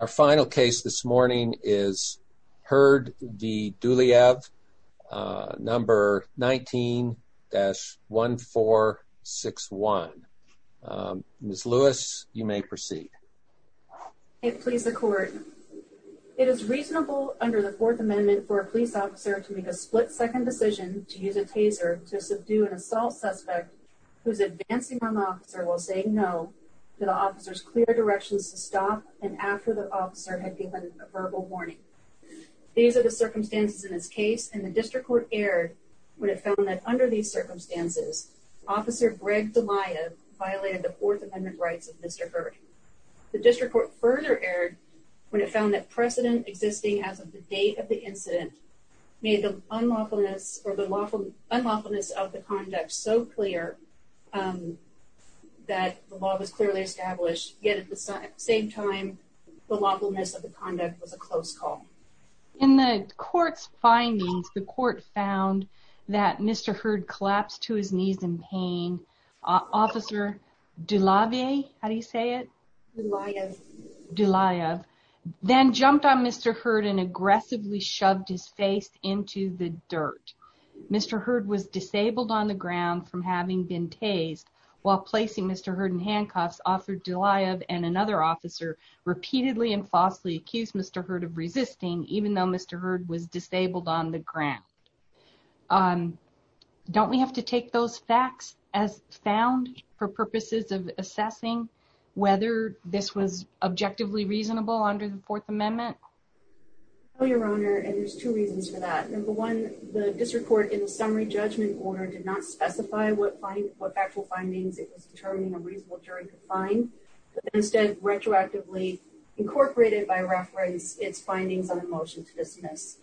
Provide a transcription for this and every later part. Our final case this morning is Heard v. Dulayev, number 19-1461. Ms. Lewis, you may proceed. It please the court. It is reasonable under the Fourth Amendment for a police officer to make a split-second decision to use a taser to subdue an assault suspect who is advancing on the officer while saying no to the officer's clear directions to stop and after the officer had given a verbal warning. These are the circumstances in this case, and the District Court erred when it found that under these circumstances, Officer Greg Dulayev violated the Fourth Amendment rights of Mr. Heard. The District Court further erred when it found that precedent existing as of the date of the incident made the unlawfulness of the conduct so clear that the law was clearly established, yet at the same time, the lawfulness of the conduct was a close call. In the court's findings, the court found that Mr. Heard collapsed to his knees in pain. Officer Dulayev then jumped on Mr. Heard and aggressively shoved his face into the dirt. Mr. Heard was disabled on the ground from having been tased while placing Mr. Heard in handcuffs. Officer Dulayev and another officer repeatedly and falsely accused Mr. Heard of resisting even though Mr. Heard was disabled on the ground. Don't we have to take those facts as found for purposes of assessing whether this was objectively reasonable under the Fourth Amendment? No, Your Honor, and there's two reasons for that. Number one, the District Court in the summary judgment order did not specify what factual findings it was determining a reasonable jury could find, but instead retroactively incorporated by reference its findings on a motion to dismiss.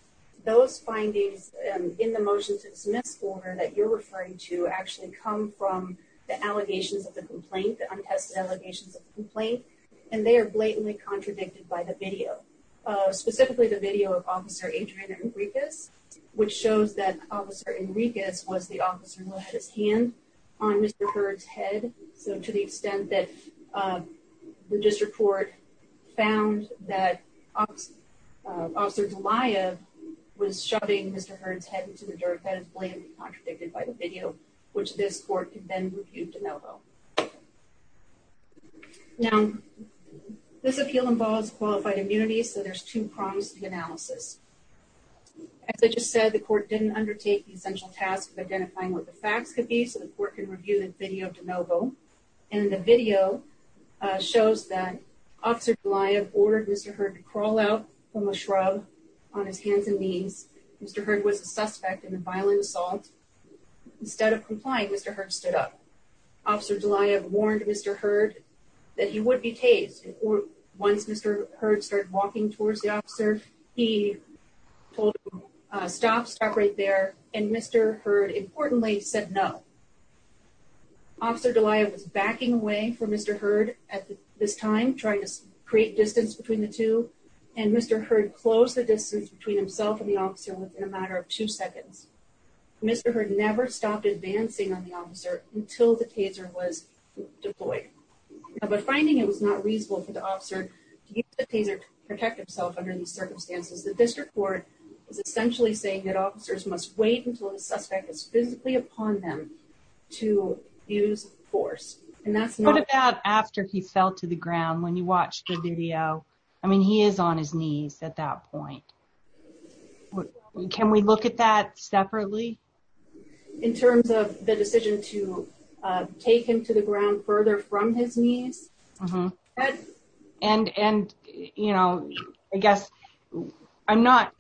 Those findings in the motion to dismiss order that you're referring to actually come from the allegations of the complaint, the untested allegations of the complaint, and they are blatantly contradicted by the video, specifically the video of Officer Adrian Enriquez, which shows that Officer Enriquez was the officer who had his hand on Mr. Heard's head, so to the extent that the District Court found that Officer Dulayev was shoving Mr. Heard's head into the dirt, that is blatantly contradicted by the video, which this court could then refute Now, this appeal involves qualified immunity, so there's two prongs to the analysis. As I just said, the court didn't undertake the essential task of identifying what the facts could be so the court can review the video of DeNovo, and the video shows that Officer Dulayev ordered Mr. Heard to crawl out from a shrub on his hands and knees. Mr. Heard was a Officer Dulayev warned Mr. Heard that he would be tased. Once Mr. Heard started walking towards the officer, he told him, stop, stop right there, and Mr. Heard, importantly, said no. Officer Dulayev was backing away from Mr. Heard at this time, trying to create distance between the two, and Mr. Heard closed the distance between himself and the officer within a matter of two minutes. But finding it was not reasonable for the officer to use the taser to protect himself under these circumstances, the district court is essentially saying that officers must wait until the suspect is physically upon them to use force. What about after he fell to the ground, when you watched the video? I mean, he is on his knees at that point. Can we look at that separately? In terms of the decision to take him to the ground further from his knees? And, you know, I guess, I'm not,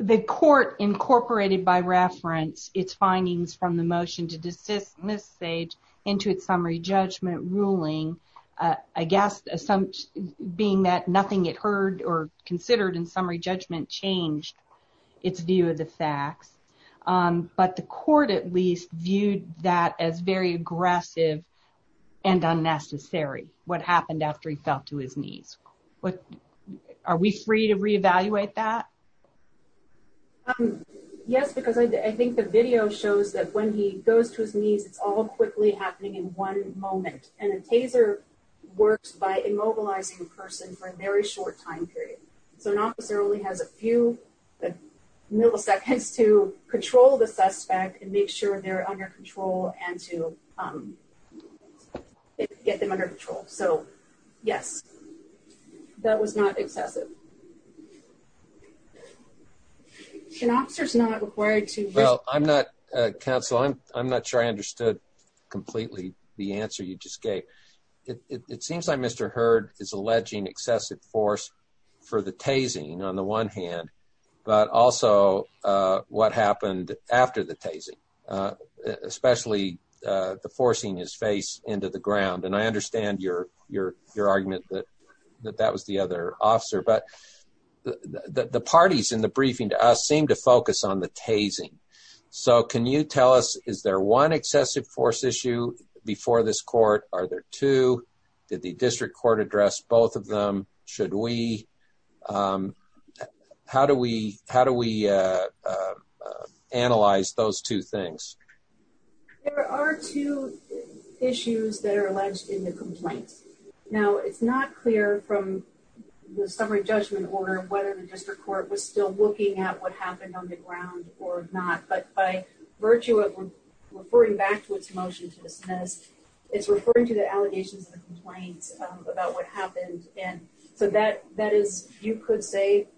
the court incorporated by reference its findings from the motion to desist from this stage into its summary judgment ruling, I guess, being that it heard or considered in summary judgment changed its view of the facts. But the court, at least, viewed that as very aggressive and unnecessary, what happened after he fell to his knees. Are we free to reevaluate that? Yes, because I think the video shows that when he goes to his knees, it's all quickly happening in moment. And a taser works by immobilizing a person for a very short time period. So an officer only has a few milliseconds to control the suspect and make sure they're under control and to get them under control. So, yes, that was not excessive. An officer's not required to... Well, I'm not, counsel, I'm not sure I understood completely the answer you just gave. It seems like Mr. Hurd is alleging excessive force for the tasing on the one hand, but also what happened after the tasing, especially the forcing his face into the ground. And I understand your argument that that was the other officer. But the parties in the briefing to us seem to focus on the tasing. So can you tell us, is there one excessive force issue before this court? Are there two? Did the district court address both of them? Should we? How do we analyze those two things? There are two issues that are alleged in the complaints. Now, it's not clear from the summary judgment order whether the district court was still looking at what happened on the ground or not. But by virtue of referring back to its motion to dismiss, it's referring to the allegations of the complaints about what happened. And so that is, you could say,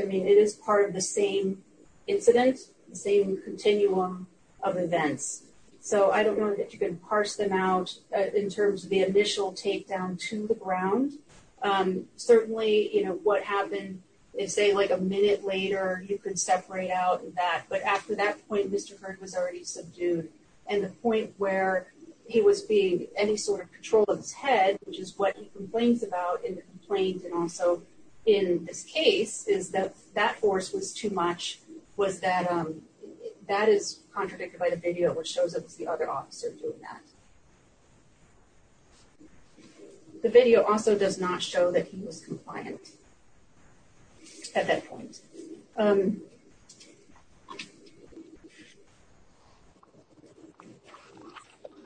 I mean, it is part of the same incident, the same continuum of events. So I don't know that you can parse them out in terms of the initial takedown to the ground. Certainly, you know, what happened is, say, like a minute later, you could separate out that. But after that point, Mr. Heard was already subdued. And the point where he was being any sort of patrol of his head, which is what he complains about in the complaint, and also in this case, is that that force was too much, was that, that is contradicted by the video, which shows us the other officer doing that. The video also does not show that he was compliant at that point.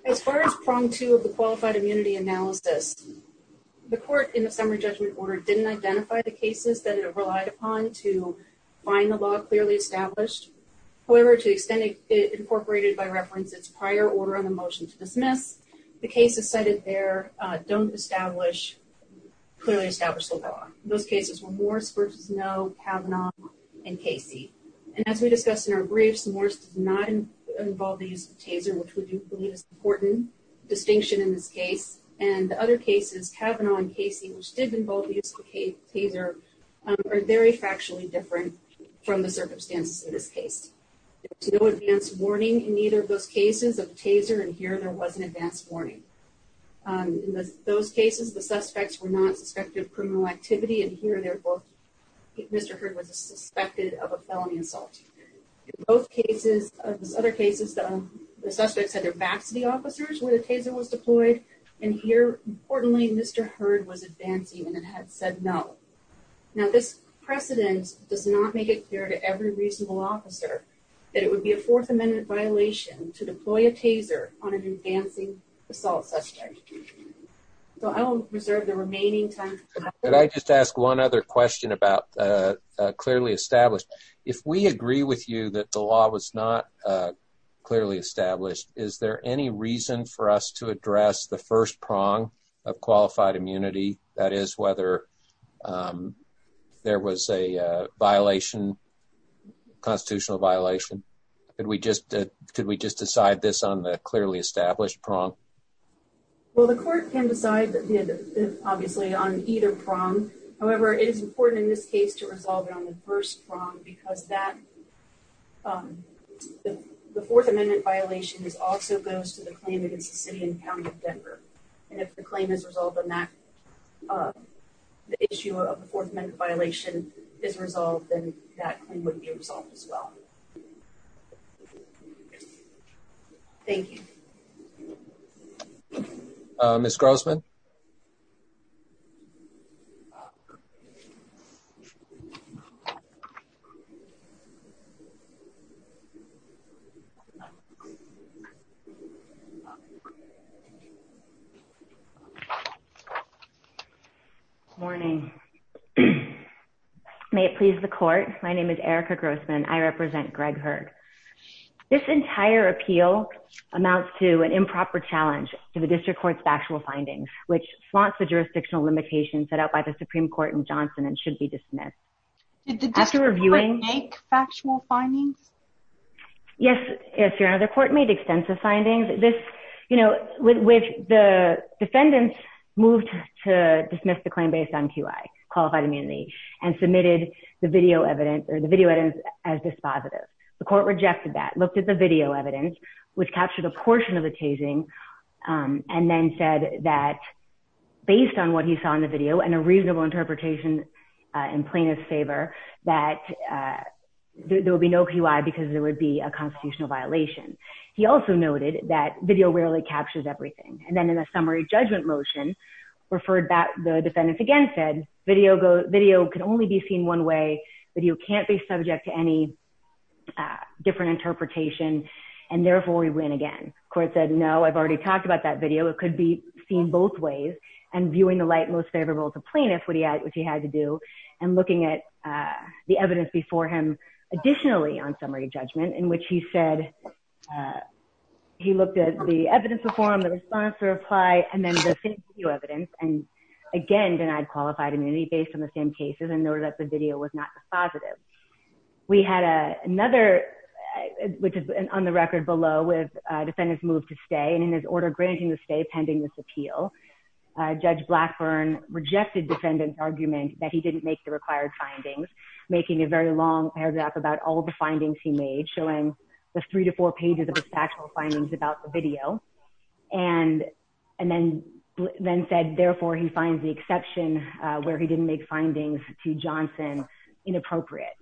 As far as prong two of the qualified immunity analysis, the court in the summary judgment order didn't identify the cases that it relied upon to find the law clearly established. However, to extend it, it incorporated by reference its prior order on the motion to dismiss, the cases cited there don't establish, clearly establish the law. Those cases were Morris versus Noe, Kavanaugh, and Casey. And as we discussed in our briefs, Morris does not involve the use of taser, which we do believe is an important distinction in this case. And the other cases, Kavanaugh and Casey, which did involve the use of taser, are very factually different from the circumstances in this case. There was no advance warning in either of those cases of taser, and here there was an advance warning. In those cases, the suspects were not suspected of criminal activity, and here they're both, Mr. Hurd was suspected of a felony assault. In both cases, other cases, the suspects had their back to the officers where the taser was deployed, and here, importantly, Mr. Hurd was advancing and had said no. Now, this precedent does not make clear to every reasonable officer that it would be a Fourth Amendment violation to deploy a taser on an advancing assault suspect. So, I will reserve the remaining time. Could I just ask one other question about clearly established? If we agree with you that the law was not clearly established, is there any reason for us to address the first prong of qualified immunity, that is, whether there was a constitutional violation? Could we just decide this on the clearly established prong? Well, the court can decide, obviously, on either prong. However, it is important in this case to resolve it on the first prong because the Fourth Amendment violation also goes to the claim against the city and county of Denver, and if the claim is resolved on that, the issue of the Fourth Amendment violation is resolved, then that claim would be resolved as well. Thank you. Ms. Grossman? Good morning. May it please the court, my name is Erica Grossman. I represent Greg Hurd. This entire appeal amounts to an improper challenge to the district court's factual findings, which flaunts the jurisdictional limitations set out by the Supreme Court in Johnson and should be dismissed. Did the district court make factual findings? Yes, Your Honor, the court made extensive findings. The defendants moved to dismiss the claim based on QI, qualified immunity, and submitted the video evidence as dispositive. The court rejected that, looked at the video evidence, which captured a portion of the tasing, and then said that, based on what he saw in the video and a reasonable interpretation in plaintiff's favor, that there would be no QI because there would be a constitutional violation. He also noted that video rarely captures everything, and then in a summary judgment motion, the defendants again said video could only be seen one way, video can't be subject to any different interpretation, and therefore we win again. Court said, no, I've already talked about that video, it could be seen both ways, and viewing the light most favorable to plaintiff, which he had to do, and looking at the evidence before him additionally on summary judgment, in which he said, he looked at the evidence before him, the response to reply, and then the same video evidence, and again denied qualified immunity based on the same cases, and noted that the video was not dispositive. We had another, which is on the record below, with defendants moved to stay, and in his order granting the stay pending this appeal, Judge Blackburn rejected defendant's request to stay, and said he didn't make the required findings, making a very long paragraph about all the findings he made, showing the three to four pages of his factual findings about the video, and then said, therefore he finds the exception where he didn't make findings to Johnson inappropriate,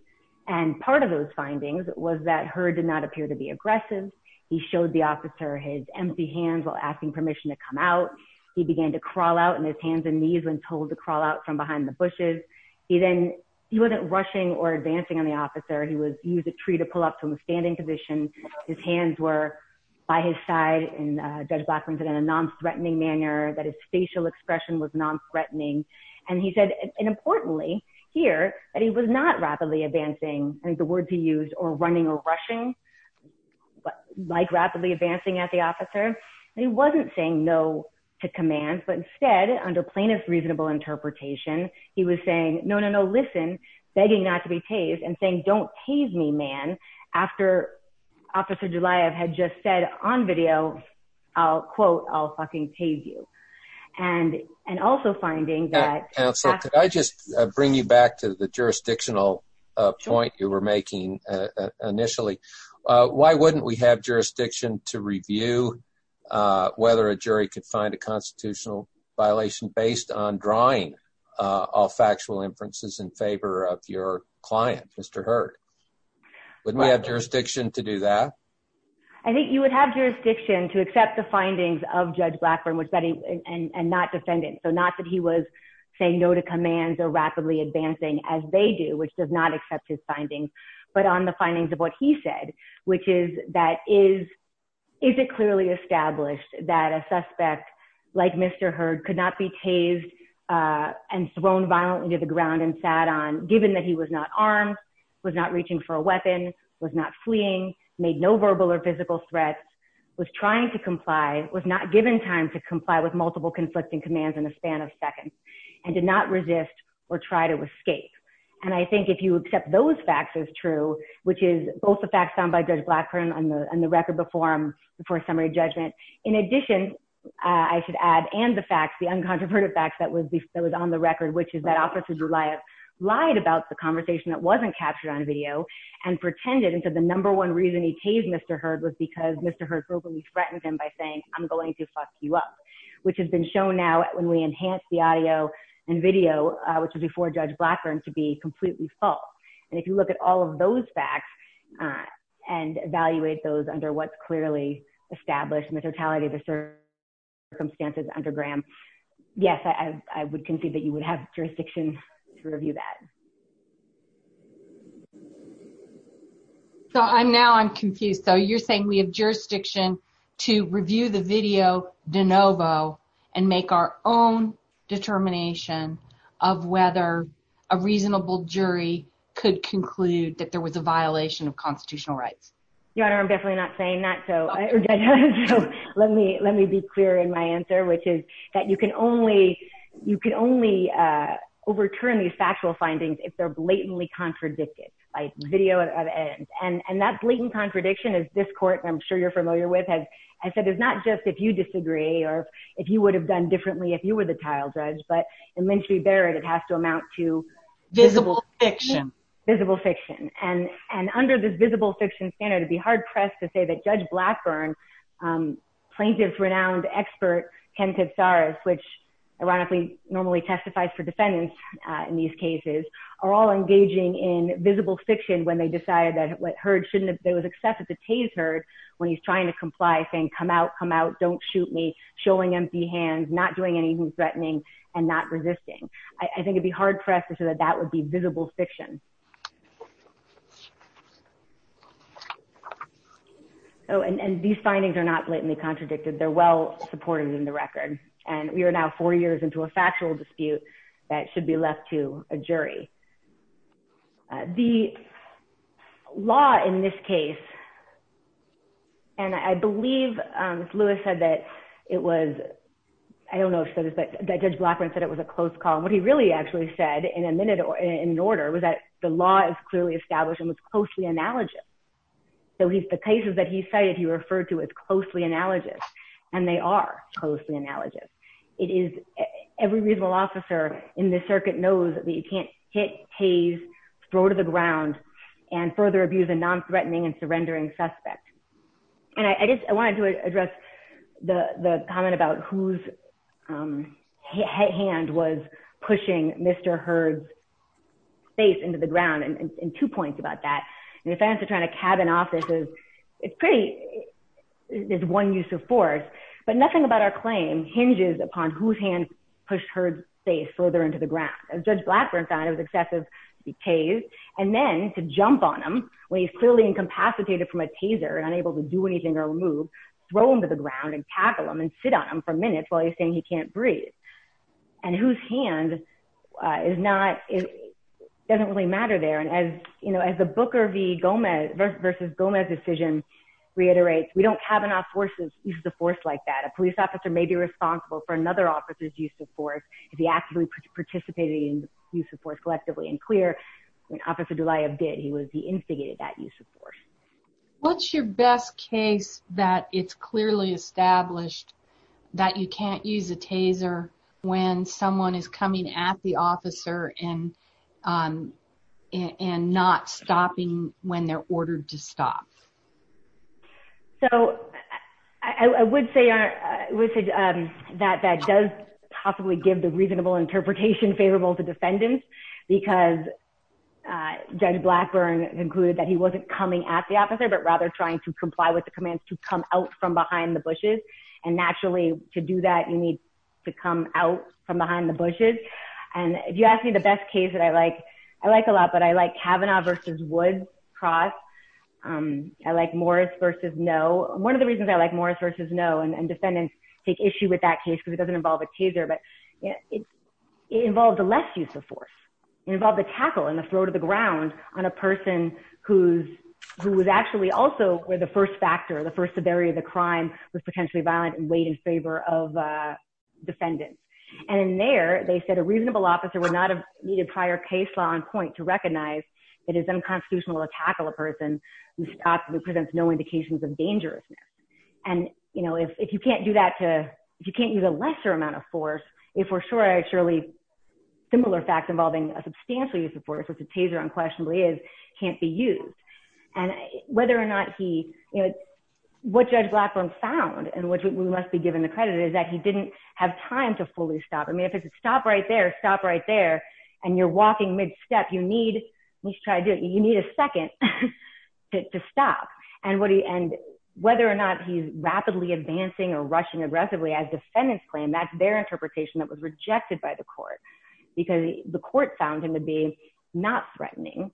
and part of those findings was that Heard did not appear to be aggressive, he showed the officer his empty hands while asking permission to come out, he began to crawl out in his hands and knees when told to crawl out from behind the bushes, he then, he wasn't rushing or advancing on the officer, he was, he was a tree to pull up from a standing position, his hands were by his side, and Judge Blackburn said in a non-threatening manner, that his facial expression was non-threatening, and he said, and importantly here, that he was not rapidly advancing, and the words he used, or running or rushing, like rapidly advancing at the officer, he wasn't saying no to commands, but instead, under plaintiff's reasonable interpretation, he was saying, no, no, no, listen, begging not to be tased, and saying, don't tase me, man, after Officer Jelayev had just said on video, I'll quote, I'll fucking tase you, and, and also finding that, counsel, could I just bring you back to the jurisdictional point you were making initially, why wouldn't we have jurisdiction to review whether a jury could find a constitutional violation based on drawing all factual inferences in favor of your client, Mr. Hurd, wouldn't we have jurisdiction to do that? I think you would have jurisdiction to accept the findings of Judge Blackburn, which that he, and, and not defend it, so not that he was saying no to commands or rapidly advancing, as they do, which does not accept his findings, but on the findings of what he said, which is that is, is it clearly established that a suspect like Mr. Hurd could not be tased and thrown violently to the ground and sat on, given that he was not armed, was not reaching for a weapon, was not fleeing, made no verbal or physical threats, was trying to comply, was not given time to comply with multiple conflicting commands in a span of seconds, and did not resist or try to escape. And I think if you accept those facts as true, which is both the facts found by Judge Blackburn on the, on the record before him, before summary judgment, in addition, I should add, and the facts, the uncontroverted facts that was, that was on the record, which is that Officer Goliath lied about the conversation that wasn't captured on video and pretended, and said the number one reason he tased Mr. Hurd was because Mr. Hurd verbally threatened him by saying, I'm going to fuck you up, which has been shown now when we enhance the audio and video, which was before Judge Blackburn, to be completely false. And if you look at all of those facts and evaluate those under what's clearly established in the totality of the circumstances under Graham, yes, I would concede that you would have jurisdiction to review that. So I'm now, I'm confused. So you're saying we have jurisdiction to review the video de novo and make our own determination of whether a reasonable jury could conclude that there was a violation of constitutional rights? Your Honor, I'm definitely not saying that. So let me, let me be clear in my answer, which is that you can only, you can only overturn these factual findings if they're blatantly contradicted by video. And that blatant contradiction is this court, I'm sure you're familiar with, has said it's not just if you disagree or if you would have done differently if you were the trial judge, but in Lynch v. Barrett, it has to amount to visible fiction. Visible fiction. And, and under this visible fiction standard, it'd be hard pressed to say that Judge Blackburn, plaintiff's renowned expert, Ken Katsaris, which ironically normally testifies for defendants in these cases, are all engaging in there was excessive taser when he's trying to comply, saying, come out, come out, don't shoot me, showing empty hands, not doing anything threatening and not resisting. I think it'd be hard pressed to say that that would be visible fiction. Oh, and these findings are not blatantly contradicted. They're well supported in the record. And we are now four years into a factual dispute that should be left to a jury. The law in this case, and I believe Lewis said that it was, I don't know if he said this, but Judge Blackburn said it was a close call. What he really actually said in a minute or in order was that the law is clearly established and was closely analogous. So he's, the cases that he cited, he referred to as closely analogous, and they are closely in the circuit knows that you can't hit, haze, throw to the ground, and further abuse a non-threatening and surrendering suspect. And I guess I wanted to address the comment about whose hand was pushing Mr. Hurd's face into the ground and two points about that. And if I have to try to cabin offices, it's pretty, there's one use of force, but nothing about our claim hinges upon whose hand pushed Hurd's face further into the ground. As Judge Blackburn said, it was excessive to be hazed and then to jump on him when he's clearly incapacitated from a taser and unable to do anything or move, throw him to the ground and tackle him and sit on him for minutes while he's saying he can't breathe. And whose hand is not, doesn't really matter there. And as, you know, as the Booker v. Gomez versus Gomez decision reiterates, we don't cabin off forces, use of force like that. A police officer may be responsible for another officer's use of force. If he actively participated in the use of force collectively and clear, when Officer Delia did, he was, he instigated that use of force. What's your best case that it's clearly established that you can't use a taser when someone is coming at the officer and not stopping when they're ordered to stop? So I would say that that does possibly give the reasonable interpretation favorable to defendants because Judge Blackburn concluded that he wasn't coming at the officer, but rather trying to comply with the commands to come out from behind the bushes. And naturally to do that, you need to come out from behind the bushes. And if you ask me the best case that I like, I like a lot, I like Kavanaugh v. Wood, cross. I like Morris v. Noe. One of the reasons I like Morris v. Noe and defendants take issue with that case because it doesn't involve a taser, but it involved a less use of force. It involved a tackle in the throat of the ground on a person who was actually also where the first factor, the first severity of the crime was potentially violent and weighed in favor of defendants. And in there, they said a reasonable officer would not need a prior case law on point to recognize it is unconstitutional to tackle a person who presents no indications of dangerousness. And if you can't do that to, if you can't use a lesser amount of force, if we're sure, surely similar facts involving a substantial use of force, which a taser unquestionably is, can't be used. And whether or not he, what Judge Blackburn found, and which we must be given the credit, is that he didn't have time to fully stop. I mean, stop right there, stop right there. And you're walking mid-step. You need, let's try to do it. You need a second to stop. And whether or not he's rapidly advancing or rushing aggressively as defendants claim, that's their interpretation that was rejected by the court because the court found him to be not threatening,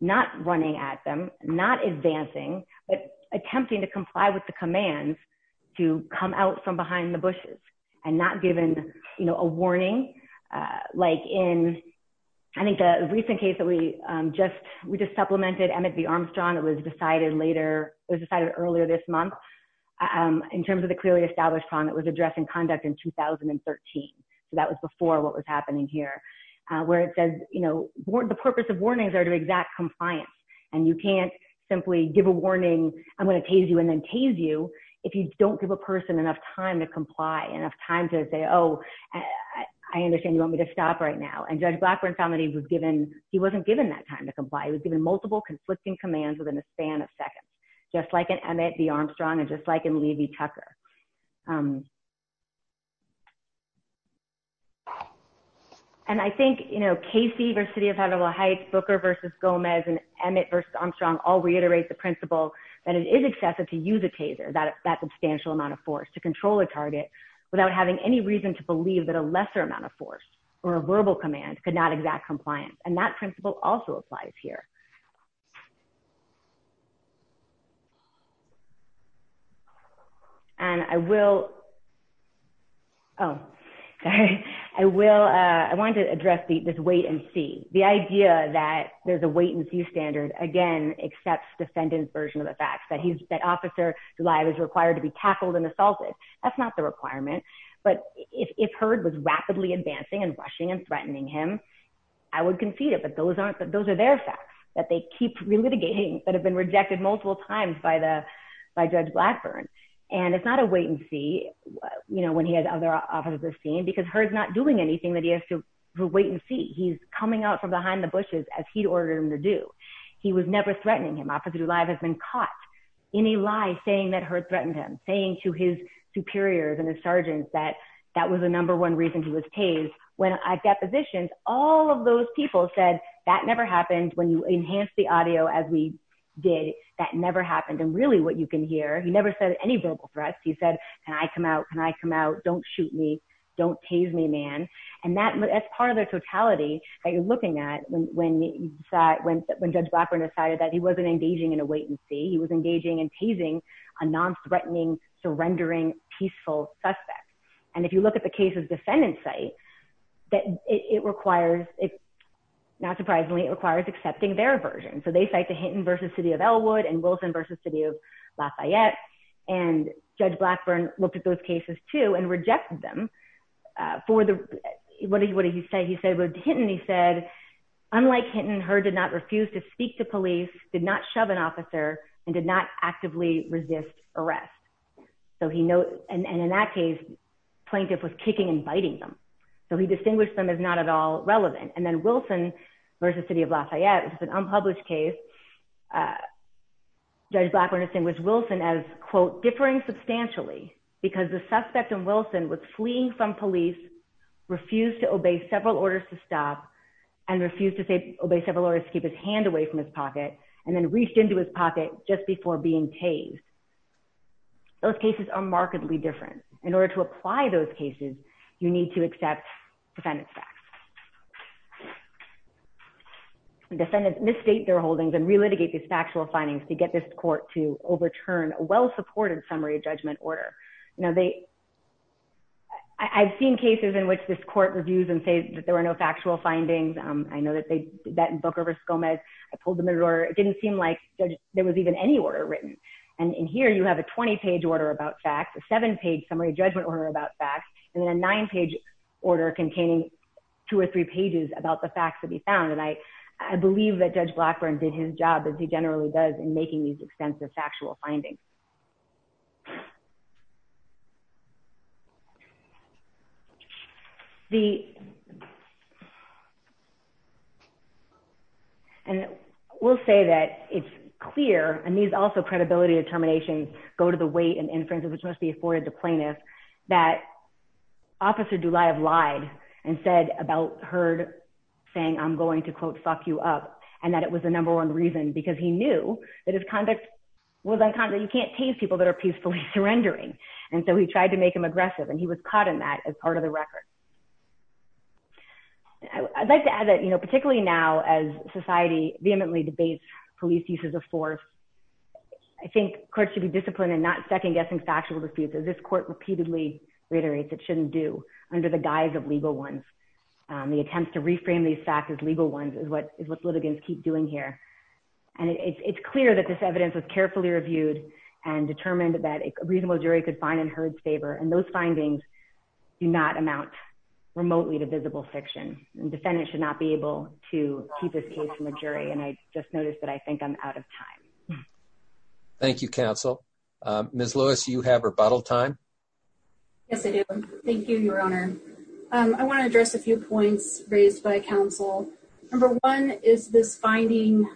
not running at them, not advancing, but attempting to comply with the commands to come out from behind the bushes and not given a warning. Like in, I think the recent case that we just supplemented, Emmett v. Armstrong, it was decided later, it was decided earlier this month in terms of the clearly established problem that was addressed in conduct in 2013. So that was before what was happening here, where it says, the purpose of warnings are to exact compliance. And you can't simply give a warning, I'm going to tase you and then tase you if you don't give a person enough time to comply, enough time to say, oh, I understand you want me to stop right now. And Judge Blackburn found that he was given, he wasn't given that time to comply. He was given multiple conflicting commands within a span of seconds, just like in Emmett v. Armstrong and just like in Levy-Tucker. And I think, you know, Casey v. City of Havana Heights, Booker v. Gomez and Emmett v. Armstrong all reiterate the principle that it is excessive to use a taser, that substantial amount of force to control a target without having any reason to believe that a lesser amount of force or a verbal command could not exact compliance. And that principle also applies here. And I will, oh, sorry, I will, I wanted to address this wait and see. The idea that there's a wait and see standard, again, accepts defendant's version of the facts, that he's, that Officer DuLive is required to be tackled and assaulted. That's not the requirement, but if Heard was rapidly advancing and rushing and threatening him, I would concede it. But those aren't, those are their facts that they keep relitigating that have been rejected multiple times by the, by Judge Blackburn. And it's not a wait and see, you know, when he has other officers seen because Heard's not doing anything that he has to wait and see. He's coming out from behind the bushes as he'd ordered him to do. He was never threatening him. Officer DuLive has been caught in a lie saying that Heard threatened him, saying to his superiors and his sergeants that, that was the number one reason he was tased. When at depositions, all of those people said, that never happened. When you enhance the audio as we did, that never happened. And really what you can hear, he never said any verbal threats. He said, can I come out? Can I come out? Don't shoot me. Don't tase me, man. And that, that's part of the totality that you're looking at when, when, when Judge Blackburn decided that he wasn't engaging in a wait and see, he was engaging in tasing a non-threatening, surrendering, peaceful suspect. And if you look at the case's defendant site, that it requires, not surprisingly, it requires accepting their version. So they cite the Hinton versus city of Ellwood and Wilson versus city of Lafayette. And Judge Blackburn looked at those cases too and rejected them for the, what did he say? He said, with Hinton, he said, unlike Hinton, her did not refuse to speak to police, did not shove an officer and did not actively resist arrest. So he knows, and in that case, plaintiff was kicking and biting them. So he distinguished them as not at all relevant. And then Wilson versus city of Lafayette, which is an unpublished case, Judge Blackburn distinguished Wilson as quote, differing substantially because the suspect in Wilson was fleeing from police, refused to obey several orders to stop, and refused to say, obey several orders to keep his hand away from his pocket, and then reached into his pocket just before being tased. Those cases are markedly different. In order to apply those cases, you need to accept defendant's facts. Defendants misstate their holdings and relitigate these factual findings to get this court to overturn a well-supported summary judgment order. Now they, I've seen cases in which this court reviews and says that there were no factual findings. I know that they did that in Booker v. Gomez. I pulled them in order. It didn't seem like there was even any order written. And in here, you have a 20-page order about facts, a seven-page summary judgment order about facts, and then a nine-page order containing two or three pages about the facts to be found. And I believe that Judge Blackburn did his job as he generally does in making these extensive factual findings. And we'll say that it's clear, and these also credibility determinations go to the weight and inferences which must be afforded to plaintiffs, that Officer Dulaiev lied and said about Herd saying, I'm going to, quote, fuck you up, and that it was the number one reason, because he knew that his conduct was unconditional. You can't tase people that are peacefully surrendering. And so he tried to make him aggressive, and he was caught in that as part of the record. I'd like to add that, you know, particularly now as society vehemently debates police uses of force, I think courts should be disciplined in not second-guessing factual disputes, as this court repeatedly reiterates it shouldn't do under the guise of legal ones. The attempts to reframe these facts as legal ones is what litigants keep doing here. And it's clear that this evidence was carefully reviewed and determined that a reasonable jury could find in Herd's favor. And those findings do not amount remotely to visible fiction, and defendants should not be able to keep this case from a jury. And I just noticed that I think I'm out of time. Thank you, counsel. Ms. Lewis, you have rebuttal time. Yes, I do. Thank you, Your Honor. I want to address a few points raised by counsel. Number one is this finding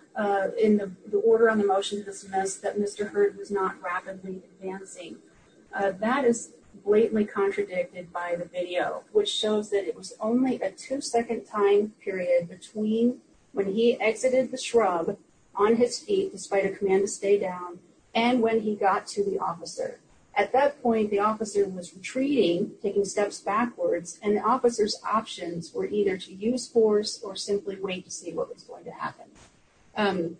in the order on the motion to dismiss that Mr. Herd was not rapidly advancing. That is blatantly contradicted by the video, which shows that it was only a two-second time period between when he exited the shrub on his feet, despite a command to stay down, and when he got to the officer. At that point, the officer was retreating, taking steps backwards, and the officer's options were either to use force or simply wait to see what was going to happen.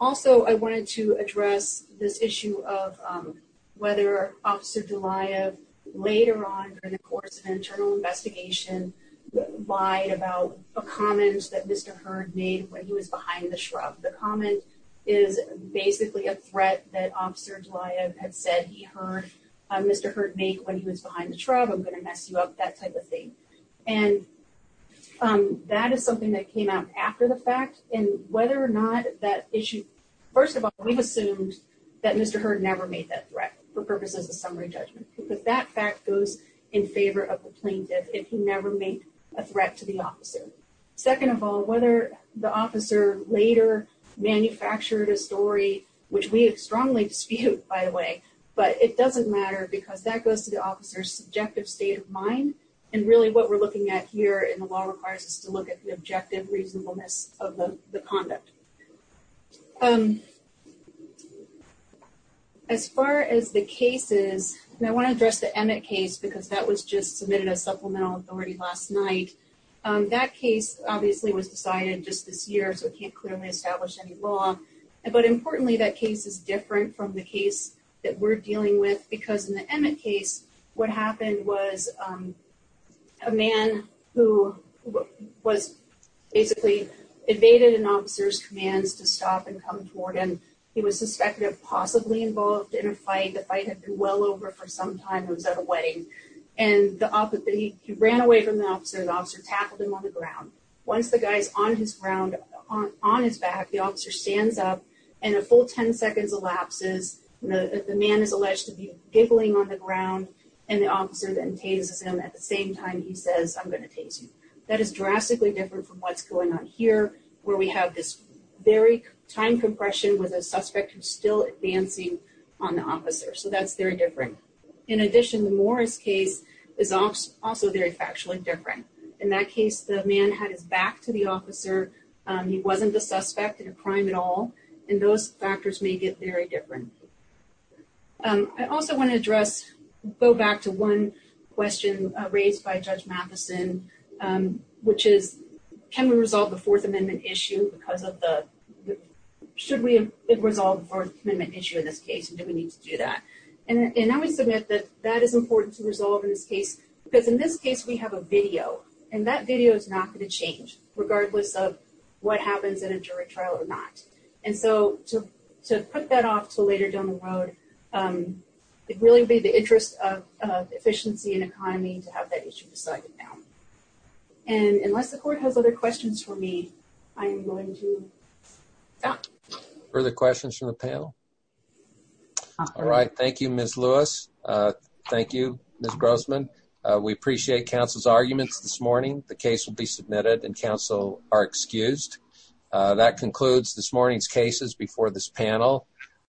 Also, I wanted to address this issue of whether Officer Goliath, later on during the course of an internal investigation, lied about a comment that Mr. Herd made when he was behind the shrub. The comment is basically a threat that Officer Goliath had said he heard Mr. Herd make when he was behind the shrub, I'm going to mess you up, that type of thing. That is something that came out after the fact, and whether or not that issue... First of all, we've assumed that Mr. Herd never made that threat for purposes of summary judgment, because that fact goes in favor of the plaintiff if he never made a threat to the officer. Second of all, whether the officer later manufactured a story, which we strongly dispute, by the way, but it doesn't matter because that goes to the subjective state of mind, and really what we're looking at here in the law requires us to look at the objective reasonableness of the conduct. As far as the cases, I want to address the Emmett case because that was just submitted as supplemental authority last night. That case obviously was decided just this year, so it can't clearly establish any law, but importantly that is different from the case that we're dealing with because in the Emmett case, what happened was a man who was basically evaded an officer's commands to stop and come toward him. He was suspected of possibly involved in a fight. The fight had been well over for some time. It was at a wedding, and he ran away from the officer. The officer tackled him on the ground. Once the officer stands up and a full 10 seconds elapses, the man is alleged to be giggling on the ground, and the officer then tases him. At the same time, he says, I'm going to tase you. That is drastically different from what's going on here where we have this very time compression with a suspect who's still advancing on the officer, so that's very different. In addition, the Morris case is also very factually different. In that case, the man had his back to the officer. He wasn't a suspect in a crime at all, and those factors make it very different. I also want to go back to one question raised by Judge Matheson, which is, can we resolve the Fourth Amendment issue? Should we have resolved the Fourth Amendment issue in this case, and do we need to do that? I would submit that that is important to resolve in this case because in this what happens in a jury trial or not. To put that off until later down the road, it really would be the interest of efficiency and economy to have that issue decided now. Unless the court has other questions for me, I am going to stop. Further questions from the panel? All right. Thank you, Ms. Lewis. Thank you, Ms. Grossman. We appreciate counsel's arguments this morning. The case will be submitted, and counsel are excused. That concludes this morning's cases before this panel.